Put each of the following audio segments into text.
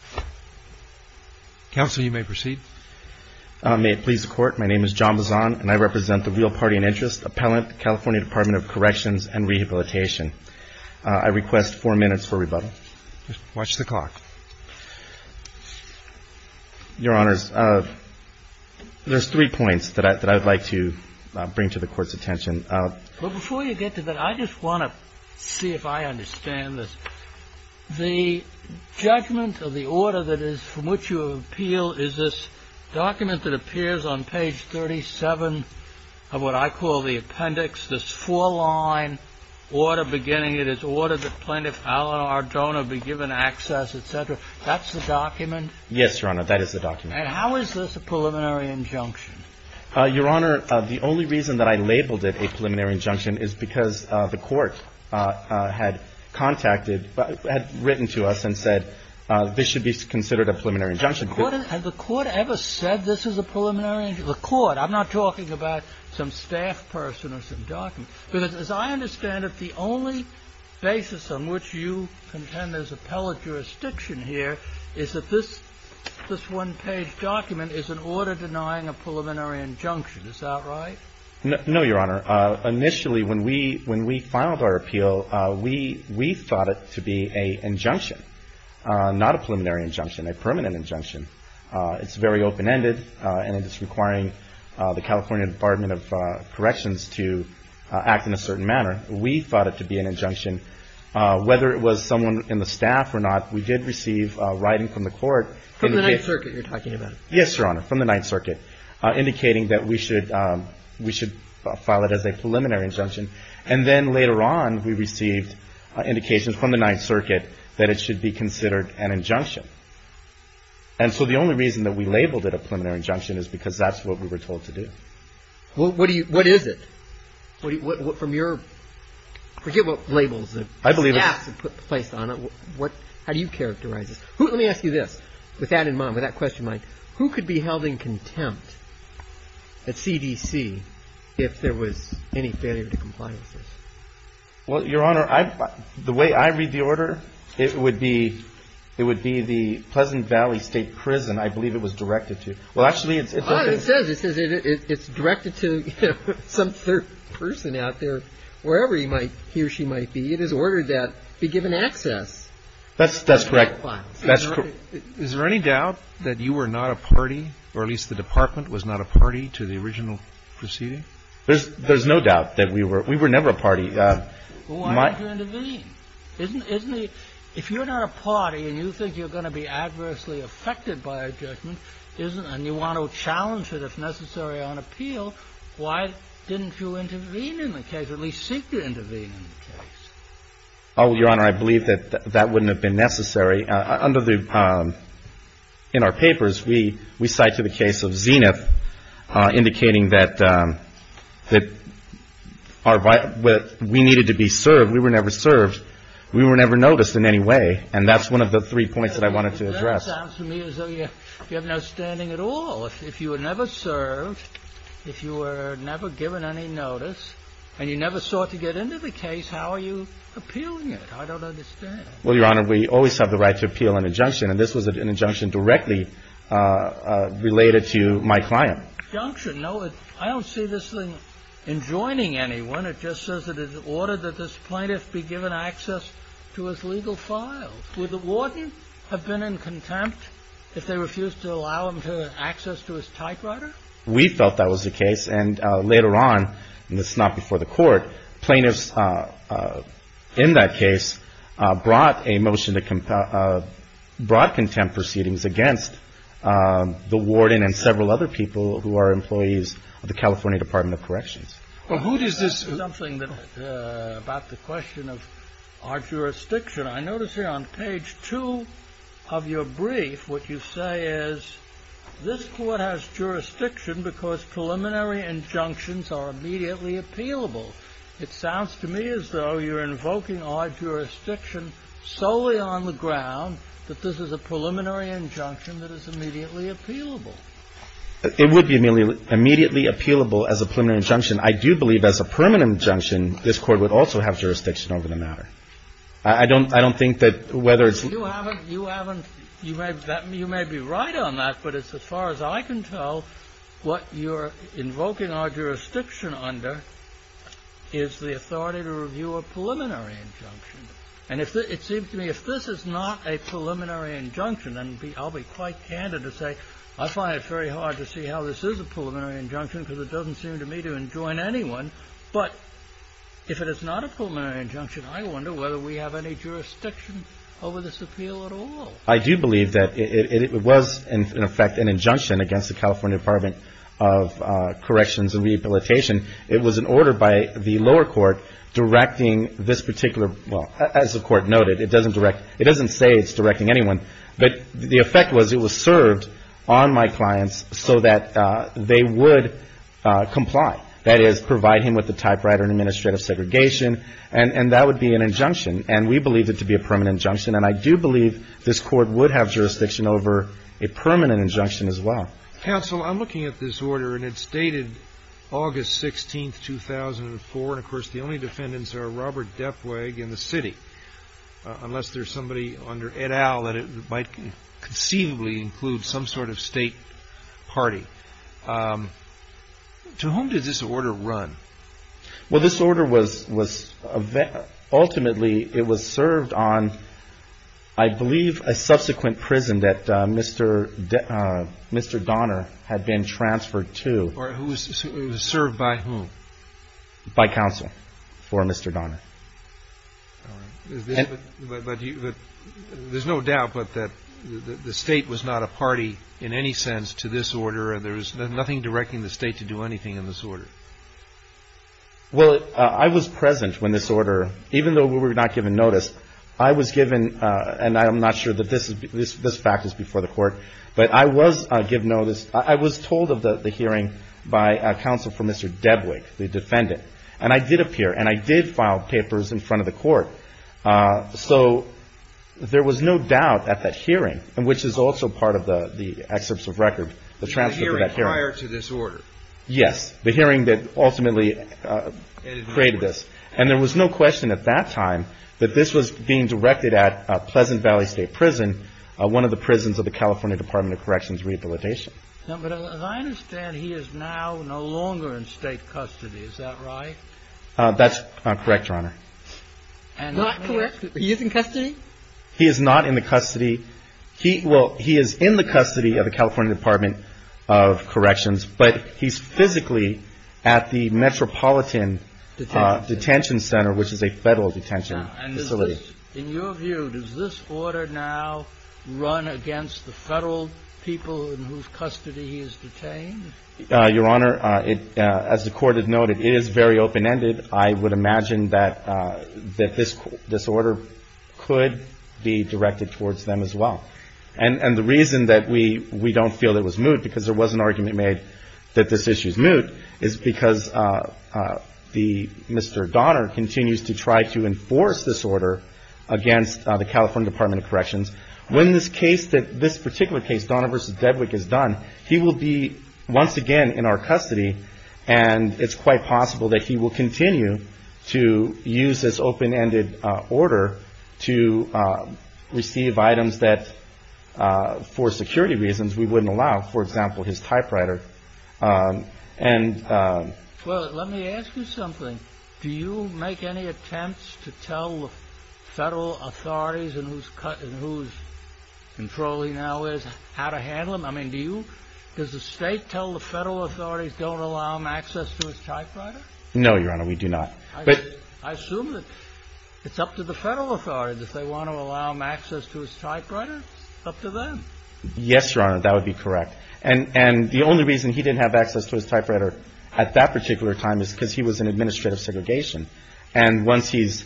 and Rehabilitation. I request four minutes for rebuttal. There are three points that I would like to bring to the Court's attention. The judgment of the order that is from which you appeal is this document that appears on page 37 of what I call the appendix, this four-line order beginning, it is ordered that Plaintiff Alan Ardona be given access, etc. That's the document? Yes, Your Honor, that is the document. And how is this a preliminary injunction? Your Honor, the only reason that I labeled it a preliminary injunction is because the Court had contacted, had written to us and said, this should be considered a preliminary injunction. Has the Court ever said this is a preliminary injunction? The Court, I'm not talking about some staff person or some document. Because as I understand it, the only basis on which you contend there's appellate jurisdiction here is that this one-page document is an order denying a preliminary injunction. Is that right? No, Your Honor. Initially, when we filed our appeal, we thought it to be an injunction, not a preliminary injunction, a permanent injunction. It's very open-ended, and it's requiring the California Department of Corrections to act in a certain manner. We thought it to be an injunction. Whether it was someone in the staff or not, we did receive writing from the Court. From the Ninth Circuit you're talking about? Yes, Your Honor, from the Ninth Circuit, indicating that we should file it as a preliminary injunction. And then later on, we received indications from the Ninth Circuit that it should be considered an injunction. And so the only reason that we labeled it a preliminary injunction is because that's what we were told to do. What is it? From your – forget what labels the staffs have placed on it. I believe it. How do you characterize it? Let me ask you this, with that in mind, with that question, Mike. Who could be held in contempt at CDC if there was any failure to comply with this? Well, Your Honor, the way I read the order, it would be the Pleasant Valley State Prison, I believe it was directed to. Well, actually, it's – It says it's directed to some third person out there, wherever he might – he or she might be. It is ordered that be given access. That's correct. That's correct. Is there any doubt that you were not a party, or at least the Department was not a party to the original proceeding? There's no doubt that we were – we were never a party. Why would you intervene? Isn't the – if you're not a party and you think you're going to be adversely affected by a judgment, isn't – and you want to challenge it, if necessary, on appeal, why didn't you intervene in the case, at least seek to intervene in the case? Oh, Your Honor, I believe that that wouldn't have been necessary. In our papers, we cite to the case of Zenith indicating that our – that we needed to be served. We were never served. We were never noticed in any way, and that's one of the three points that I wanted to address. Well, that sounds to me as though you have no standing at all. If you were never served, if you were never given any notice, and you never sought to get into the case, how are you appealing it? I don't understand. Well, Your Honor, we always have the right to appeal an injunction, and this was an injunction directly related to my client. Injunction? No, I don't see this thing enjoining anyone. It just says that it is ordered that this plaintiff be given access to his legal files. Would the warden have been in contempt if they refused to allow him access to his typewriter? We felt that was the case, and later on, and this is not before the court, plaintiffs in that case brought a motion to – brought contempt proceedings against the warden and several other people who are employees of the California Department of Corrections. Well, who does this – That's something about the question of our jurisdiction. I notice here on page two of your brief what you say is this court has jurisdiction because preliminary injunctions are immediately appealable. It sounds to me as though you're invoking our jurisdiction solely on the ground that this is a preliminary injunction that is immediately appealable. It would be immediately appealable as a preliminary injunction. I do believe as a permanent injunction this court would also have jurisdiction over the matter. I don't think that whether it's – You haven't – you haven't – you may be right on that, but it's as far as I can tell what you're invoking our jurisdiction under is the authority to review a preliminary injunction. And it seems to me if this is not a preliminary injunction, then I'll be quite candid to say I find it very hard to see how this is a preliminary injunction because it doesn't seem to me to enjoin anyone. But if it is not a preliminary injunction, I wonder whether we have any jurisdiction over this appeal at all. I do believe that it was in effect an injunction against the California Department of Corrections and Rehabilitation. It was an order by the lower court directing this particular – well, as the court noted, it doesn't direct – it doesn't say it's directing anyone, but the effect was it was served on my clients so that they would comply. That is, provide him with the typewriter and administrative segregation. And that would be an injunction. And we believe it to be a permanent injunction. And I do believe this Court would have jurisdiction over a permanent injunction as well. Counsel, I'm looking at this order, and it's dated August 16th, 2004. And, of course, the only defendants are Robert Defwag and the city, unless there's somebody under et al. that it might conceivably include some sort of state party. To whom did this order run? Well, this order was – ultimately, it was served on, I believe, a subsequent prison that Mr. Donner had been transferred to. It was served by whom? By counsel for Mr. Donner. All right. But there's no doubt that the state was not a party in any sense to this order, and there's nothing directing the state to do anything in this order. Well, I was present when this order – even though we were not given notice, I was given – and I'm not sure that this fact is before the Court, but I was given notice. I was told of the hearing by counsel for Mr. Defwag, the defendant. And I did appear, and I did file papers in front of the Court. So there was no doubt at that hearing, which is also part of the excerpts of record, the transfer to that hearing. The hearing prior to this order. Yes. The hearing that ultimately created this. And there was no question at that time that this was being directed at Pleasant Valley State Prison, one of the prisons of the California Department of Corrections Rehabilitation. But as I understand, he is now no longer in state custody. Is that right? That's correct, Your Honor. Not correct? He is in custody? He is not in the custody. He – well, he is in the custody of the California Department of Corrections, but he's physically at the Metropolitan Detention Center, which is a Federal detention facility. In your view, does this order now run against the Federal people in whose custody he is detained? Your Honor, as the Court has noted, it is very open-ended. I would imagine that this order could be directed towards them as well. And the reason that we don't feel it was moot, because there was an argument made that this issue is moot, is because Mr. Donner continues to try to enforce this order against the California Department of Corrections. When this particular case, Donner v. Dedwick, is done, he will be once again in our custody, and it's quite possible that he will continue to use this open-ended order to receive items that, for security reasons, we wouldn't allow, for example, his typewriter. Well, let me ask you something. Do you make any attempts to tell the Federal authorities in whose control he now is how to handle him? I mean, do you? Does the State tell the Federal authorities don't allow him access to his typewriter? No, Your Honor, we do not. I assume that it's up to the Federal authorities if they want to allow him access to his typewriter. It's up to them. Yes, Your Honor, that would be correct. And the only reason he didn't have access to his typewriter at that particular time is because he was in administrative segregation. And once this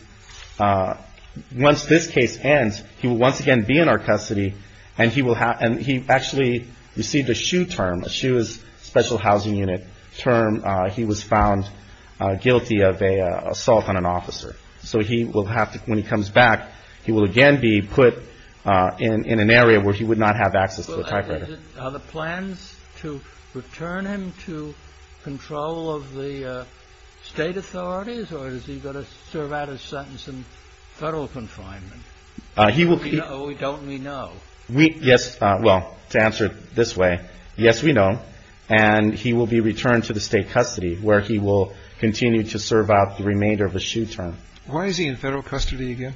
case ends, he will once again be in our custody, and he actually received a SHU term. A SHU is Special Housing Unit term. He was found guilty of an assault on an officer. So he will have to, when he comes back, he will again be put in an area where he would not have access to a typewriter. Are the plans to return him to control of the State authorities, or is he going to serve out his sentence in Federal confinement? We know. Don't we know? Yes, well, to answer it this way, yes, we know. And he will be returned to the State custody where he will continue to serve out the remainder of a SHU term. Why is he in Federal custody again?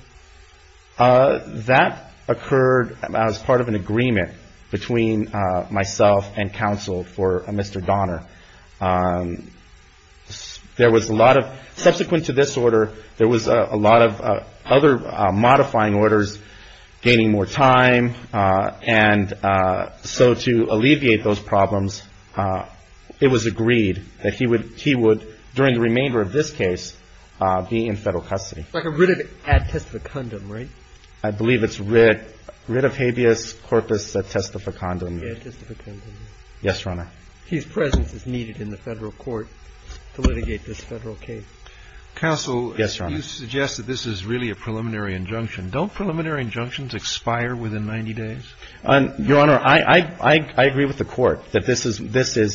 That occurred as part of an agreement between myself and counsel for Mr. Donner. There was a lot of – subsequent to this order, there was a lot of other modifying orders gaining more time. And so to alleviate those problems, it was agreed that he would, during the remainder of this case, be in Federal custody. Like a writ of a testificandum, right? I believe it's writ of habeas corpus testificandum. Yes, testificandum. Yes, Your Honor. His presence is needed in the Federal court to litigate this Federal case. Counsel. Yes, Your Honor. Well, you suggest that this is really a preliminary injunction. Don't preliminary injunctions expire within 90 days? Your Honor, I agree with the Court that this is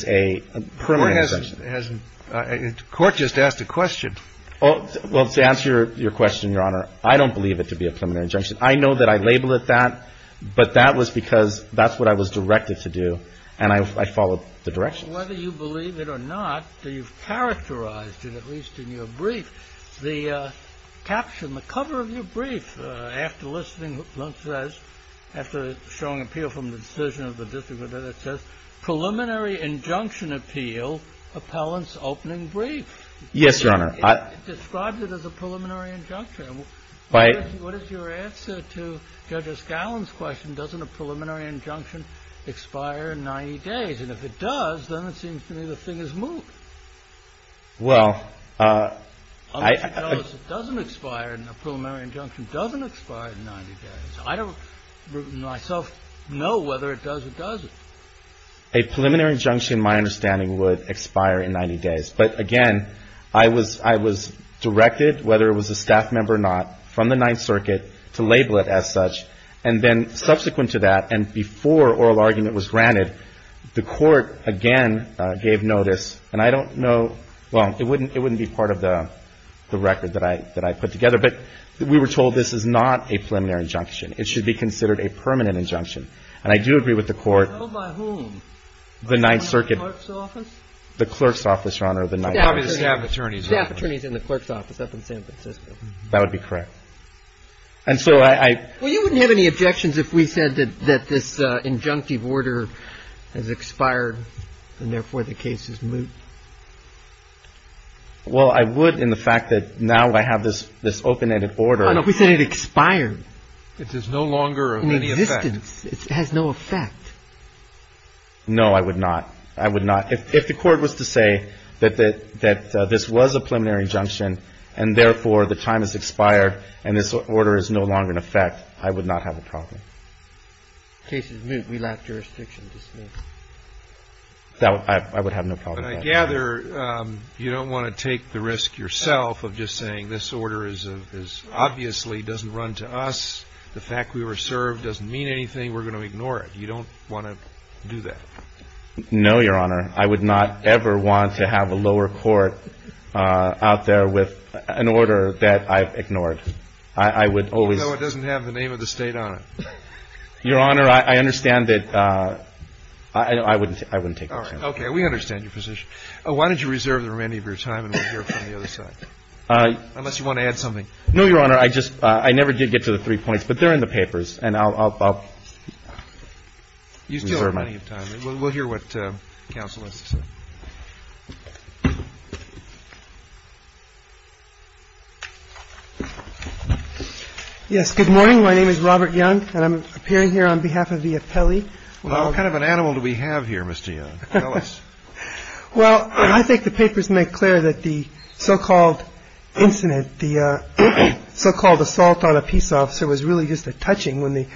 a permanent injunction. The Court just asked a question. Well, to answer your question, Your Honor, I don't believe it to be a preliminary injunction. I know that I labeled it that, but that was because that's what I was directed to do, and I followed the directions. Well, whether you believe it or not, you've characterized it, at least in your brief, the caption, the cover of your brief, after listening, it says, after showing appeal from the decision of the district, it says, preliminary injunction appeal, appellant's opening brief. Yes, Your Honor. It describes it as a preliminary injunction. What is your answer to Judge O'Scallion's question, doesn't a preliminary injunction expire in 90 days? And if it does, then it seems to me the thing is moved. Well, I — Unless you tell us it doesn't expire and a preliminary injunction doesn't expire in 90 days. I don't myself know whether it does or doesn't. A preliminary injunction, in my understanding, would expire in 90 days. But, again, I was directed, whether it was a staff member or not, from the Ninth Circuit to label it as such. And then, subsequent to that, and before oral argument was granted, the Court, again, gave notice. And I don't know — well, it wouldn't be part of the record that I put together. But we were told this is not a preliminary injunction. It should be considered a permanent injunction. And I do agree with the Court. So by whom? The Ninth Circuit. The clerk's office? The clerk's office, Your Honor, the Ninth Circuit. Probably the staff attorneys. Staff attorneys in the clerk's office up in San Francisco. That would be correct. And so I — Well, you wouldn't have any objections if we said that this injunctive order has expired and, therefore, the case is moot. Well, I would in the fact that now I have this open-ended order. Your Honor, we said it expired. It is no longer of any effect. In existence. It has no effect. No, I would not. I would not. If the Court was to say that this was a preliminary injunction and, therefore, the time has expired and this order is no longer in effect, I would not have a problem. The case is moot. We lack jurisdiction to smooth. I would have no problem with that. But I gather you don't want to take the risk yourself of just saying this order obviously doesn't run to us. The fact we were served doesn't mean anything. We're going to ignore it. You don't want to do that. No, Your Honor. I would not ever want to have a lower court out there with an order that I've ignored. I would always. Even though it doesn't have the name of the State on it. Your Honor, I understand that. I wouldn't take that risk. Okay. We understand your position. Why don't you reserve the remaining of your time and we'll hear from the other side? Unless you want to add something. No, Your Honor. I never did get to the three points, but they're in the papers and I'll reserve my time. We'll hear what counsel is. Yes. Good morning. My name is Robert Young and I'm appearing here on behalf of the appellee. What kind of an animal do we have here? Mr. Well, I think the papers make clear that the so-called incident, the so-called assault on a peace officer was really just a touching. When the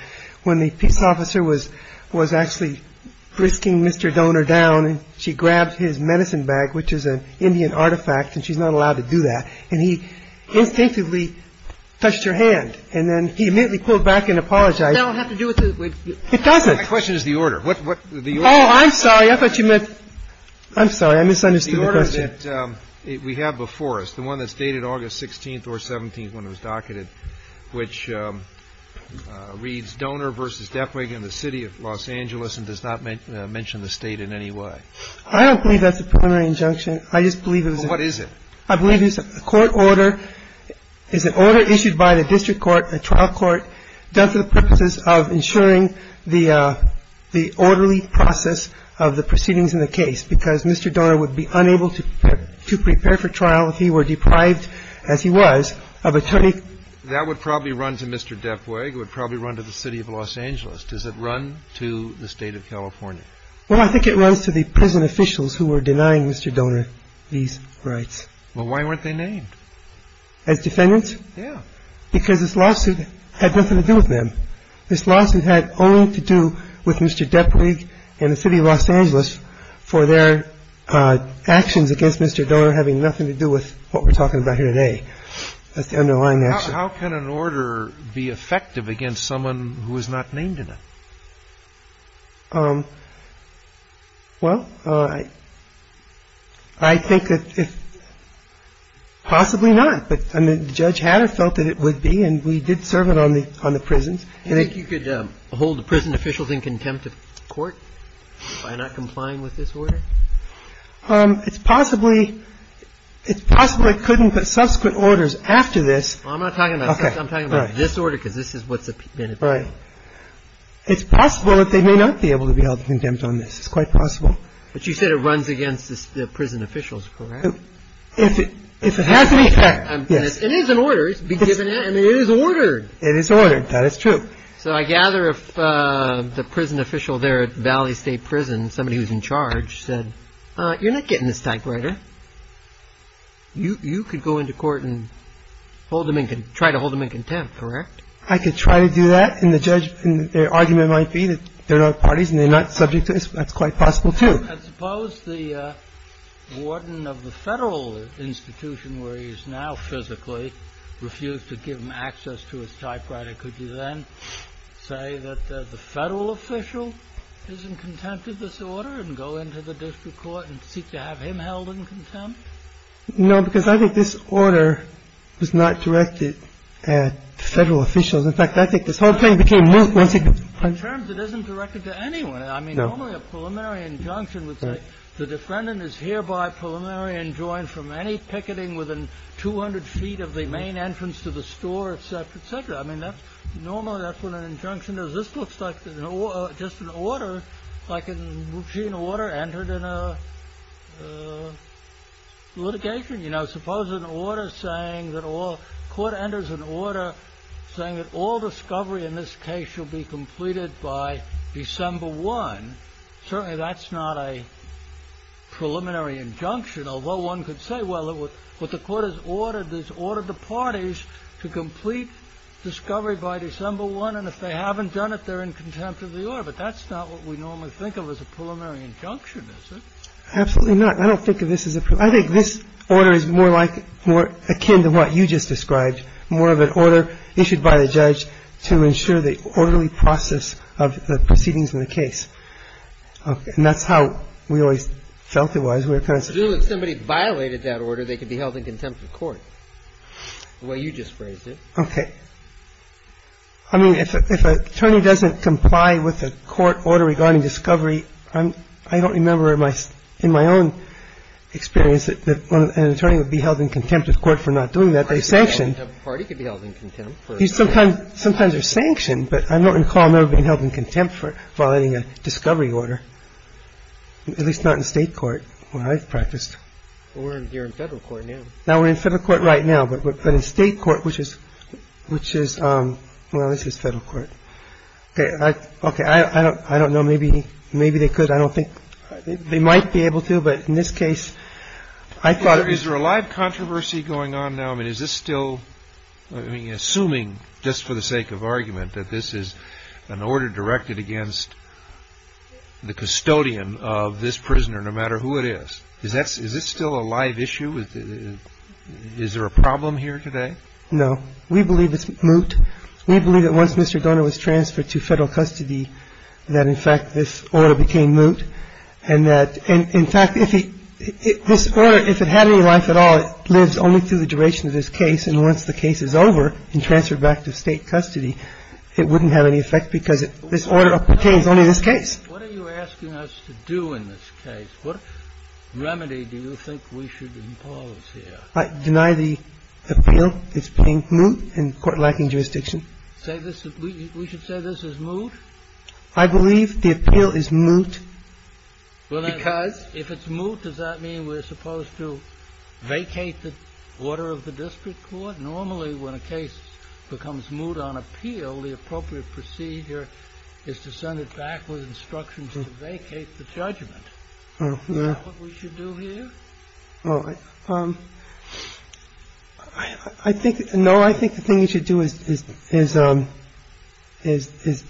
when the peace officer was was actually risking Mr. Donor down and she grabbed his medicine bag, which is an Indian artifact, and she's not allowed to do that. And he instinctively touched her hand and then he immediately pulled back and apologized. I don't have to do it. It doesn't. My question is the order. Oh, I'm sorry. I thought you meant. I'm sorry. I misunderstood. The order that we have before us, the one that's dated August 16th or 17th when it was docketed, which reads Donor versus Defragan in the city of Los Angeles and does not mention the state in any way. I don't believe that's a preliminary injunction. I just believe it is. What is it? I believe it's a court order. It's an order issued by the district court, a trial court done for the purposes of ensuring the the orderly process of the proceedings in the case, because Mr. Donor would be unable to to prepare for trial if he were deprived, as he was, of attorney. That would probably run to Mr. Defragan. It would probably run to the city of Los Angeles. Does it run to the state of California? Well, I think it runs to the prison officials who were denying Mr. Donor these rights. Well, why weren't they named? As defendants? Yeah. Because this lawsuit had nothing to do with them. This lawsuit had only to do with Mr. Depley and the city of Los Angeles for their actions against Mr. Donor having nothing to do with what we're talking about here today. That's the underlying action. How can an order be effective against someone who is not named in it? Well, I think that if — possibly not, but, I mean, Judge Hatter felt that it would be, and we did serve it on the prisons. Do you think you could hold the prison officials in contempt of court by not complying with this order? It's possibly — it's possibly couldn't, but subsequent orders after this — Well, I'm not talking about — Okay. I'm talking about this order, because this is what's been appealed. Right. It's possible that they may not be able to be held to contempt on this. It's quite possible. But you said it runs against the prison officials, correct? If it has any effect, yes. It is an order. It's been given, and it is ordered. It is ordered. That is true. So I gather if the prison official there at Valley State Prison, somebody who's in charge, said, you're not getting this typewriter, you could go into court and hold them in — try to hold them in contempt, correct? I could try to do that. And the argument might be that they're not parties and they're not subject to this. That's quite possible, too. Suppose the warden of the federal institution where he is now physically refused to give him access to his typewriter. Could you then say that the federal official is in contempt of this order and go into the district court and seek to have him held in contempt? No, because I think this order was not directed at federal officials. In fact, I think this whole thing became — In terms it isn't directed to anyone. I mean, normally a preliminary injunction would say the defendant is hereby preliminary enjoined from any picketing within 200 feet of the main entrance to the store, et cetera, et cetera. I mean, normally that's what an injunction is. This looks like just an order, like a routine order entered in a litigation. You know, suppose an order saying that all — court enters an order saying that all discovery in this case shall be completed by December 1. Certainly that's not a preliminary injunction, although one could say, well, what the court has ordered is order the parties to complete discovery by December 1. And if they haven't done it, they're in contempt of the order. But that's not what we normally think of as a preliminary injunction, is it? Absolutely not. I don't think of this as a — I think this order is more akin to what you just described, more of an order issued by the judge to ensure the orderly process of the proceedings in the case. And that's how we always felt it was. If somebody violated that order, they could be held in contempt of court, the way you just phrased it. Okay. I mean, if an attorney doesn't comply with a court order regarding discovery, I don't remember in my own experience that an attorney would be held in contempt of court for not doing that. They're sanctioned. A party could be held in contempt. Sometimes they're sanctioned, but I don't recall them ever being held in contempt for violating a discovery order, at least not in State court where I've practiced. We're here in Federal court now. Now we're in Federal court right now, but in State court, which is — well, this is Federal court. Okay. I don't know. Maybe they could. I don't think — they might be able to, but in this case, I thought — Is there a live controversy going on now? I mean, is this still — I mean, assuming, just for the sake of argument, that this is an order directed against the custodian of this prisoner, no matter who it is. Is that — is this still a live issue? Is there a problem here today? No. We believe it's moot. We believe that once Mr. Donner was transferred to Federal custody, that, in fact, this order became moot, and that — and, in fact, if he — this order, if it had any life at all, it lives only through the duration of this case, and once the case is over and transferred back to State custody, it wouldn't have any effect because this order pertains only to this case. What are you asking us to do in this case? What remedy do you think we should impose here? I deny the appeal. It's plain moot and court-lacking jurisdiction. Say this — we should say this is moot? I believe the appeal is moot because — Well, then, if it's moot, does that mean we're supposed to vacate the order of the district court? Normally, when a case becomes moot on appeal, the appropriate procedure is to send it back with instructions to vacate the judgment. Is that what we should do here? I think — no, I think the thing you should do is — is — is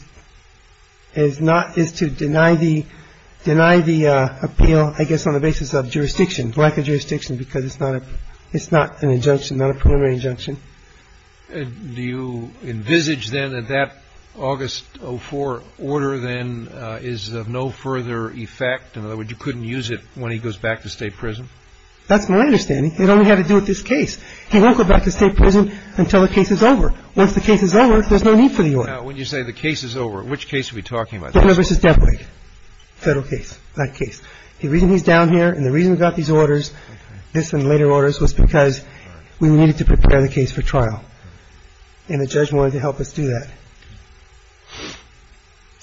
— is not — is to deny the — deny the appeal, I guess, on the basis of jurisdiction, lack of jurisdiction, because it's not a — it's not an injunction, not a preliminary injunction. Do you envisage, then, that that August 04 order, then, is of no further effect? In other words, you couldn't use it when he goes back to State prison? That's my understanding. It only had to do with this case. He won't go back to State prison until the case is over. Once the case is over, there's no need for the order. Now, when you say the case is over, which case are we talking about? Denver v. Devway. Federal case. That case. The reason he's down here and the reason we got these orders, this and later orders, was because we needed to prepare the case for trial. And the judge wanted to help us do that.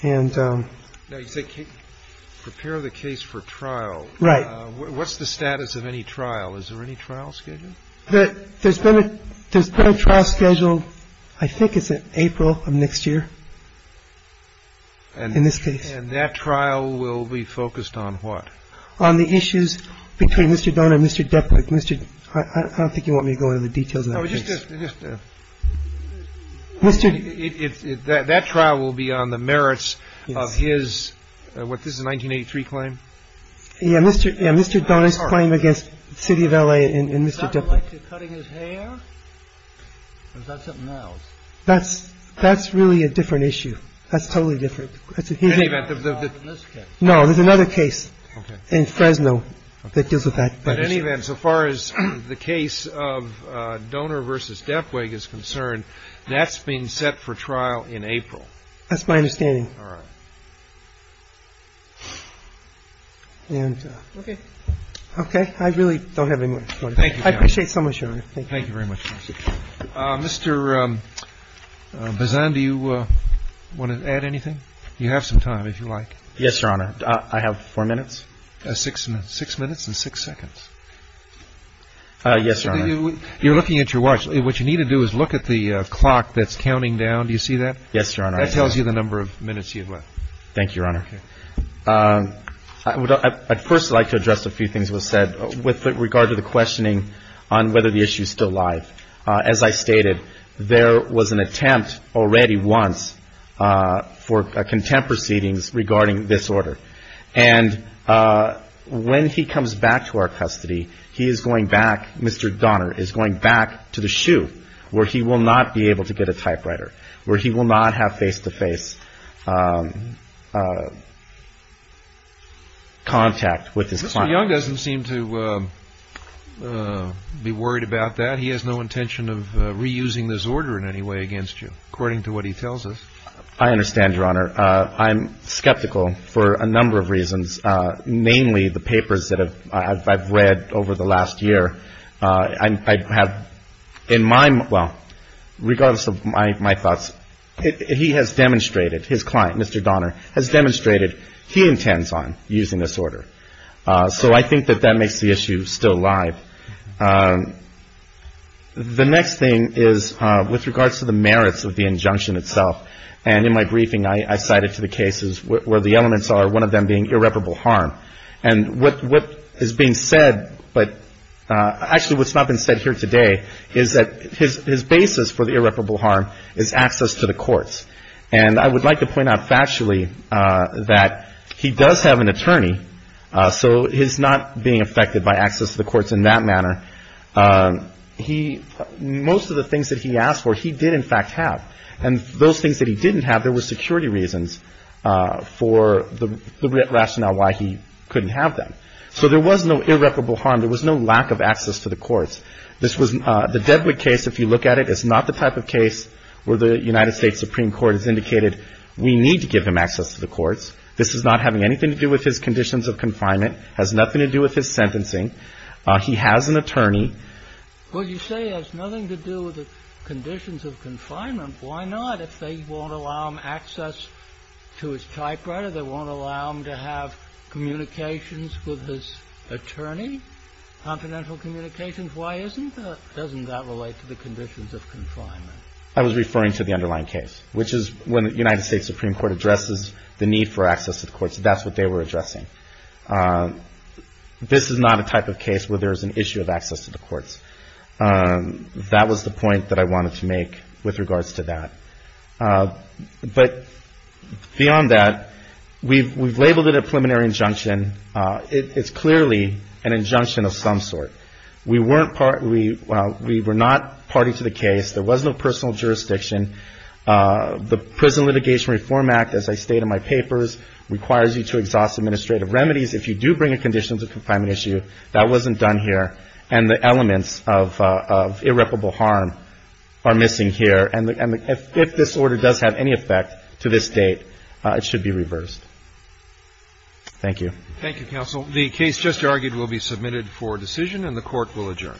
And — Now, you say prepare the case for trial. Right. What's the status of any trial? Is there any trial scheduled? There's been a — there's been a trial scheduled, I think it's in April of next year, in this case. And that trial will be focused on what? On the issues between Mr. Donah and Mr. Depwick. I don't think you want me to go into the details of that case. No, just — that trial will be on the merits of his — what, this is a 1983 claim? Yeah, Mr. Donah's claim against the city of L.A. and Mr. Depwick. Was that related to cutting his hair? Or was that something else? That's really a different issue. That's totally different. In any event — No, there's another case in Fresno that deals with that issue. But in any event, so far as the case of Donah v. Depwick is concerned, that's being set for trial in April. That's my understanding. All right. And — Okay. Okay. I really don't have any more questions. Thank you, Your Honor. I appreciate so much, Your Honor. Thank you. Thank you very much. Mr. Bazan, do you want to add anything? You have some time, if you like. Yes, Your Honor. I have four minutes. Six minutes. Six minutes and six seconds. Yes, Your Honor. You're looking at your watch. What you need to do is look at the clock that's counting down. Do you see that? Yes, Your Honor. That tells you the number of minutes you have left. Thank you, Your Honor. Okay. I'd first like to address a few things that were said with regard to the questioning on whether the issue is still live. As I stated, there was an attempt already once for contempt proceedings regarding this order. And when he comes back to our custody, he is going back — Mr. Donner is going back to the shoe, where he will not be able to get a typewriter, where he will not have face-to-face contact with his client. Mr. Young doesn't seem to be worried about that. He has no intention of reusing this order in any way against you, according to what he tells us. I understand, Your Honor. I'm skeptical for a number of reasons, namely the papers that I've read over the last year. I have — in my — well, regardless of my thoughts, he has demonstrated — his client, Mr. Donner, has demonstrated he intends on using this order. So I think that that makes the issue still live. The next thing is with regards to the merits of the injunction itself. And in my briefing, I cited to the cases where the elements are, one of them being irreparable harm. And what is being said, but — actually, what's not been said here today is that his basis for the irreparable harm is access to the courts. And I would like to point out factually that he does have an attorney, so he's not being affected by access to the courts in that manner. He — most of the things that he asked for, he did, in fact, have. And those things that he didn't have, there were security reasons for the rationale why he couldn't have them. So there was no irreparable harm. There was no lack of access to the courts. This was — the Dedwick case, if you look at it, is not the type of case where the United States Supreme Court has indicated we need to give him access to the courts. This is not having anything to do with his conditions of confinement. It has nothing to do with his sentencing. He has an attorney. Well, you say it has nothing to do with the conditions of confinement. Why not? If they won't allow him access to his typewriter, they won't allow him to have communications with his attorney, confidential communications. Why isn't that? Doesn't that relate to the conditions of confinement? I was referring to the underlying case, which is when the United States Supreme Court addresses the need for access to the courts. That's what they were addressing. This is not a type of case where there's an issue of access to the courts. That was the point that I wanted to make with regards to that. But beyond that, we've labeled it a preliminary injunction. It's clearly an injunction of some sort. We weren't — we were not party to the case. There was no personal jurisdiction. The Prison Litigation Reform Act, as I state in my papers, requires you to exhaust administrative remedies. If you do bring a conditions of confinement issue, that wasn't done here, and the elements of irreparable harm are missing here. And if this order does have any effect to this date, it should be reversed. Thank you. Thank you, counsel. The case just argued will be submitted for decision, and the Court will adjourn.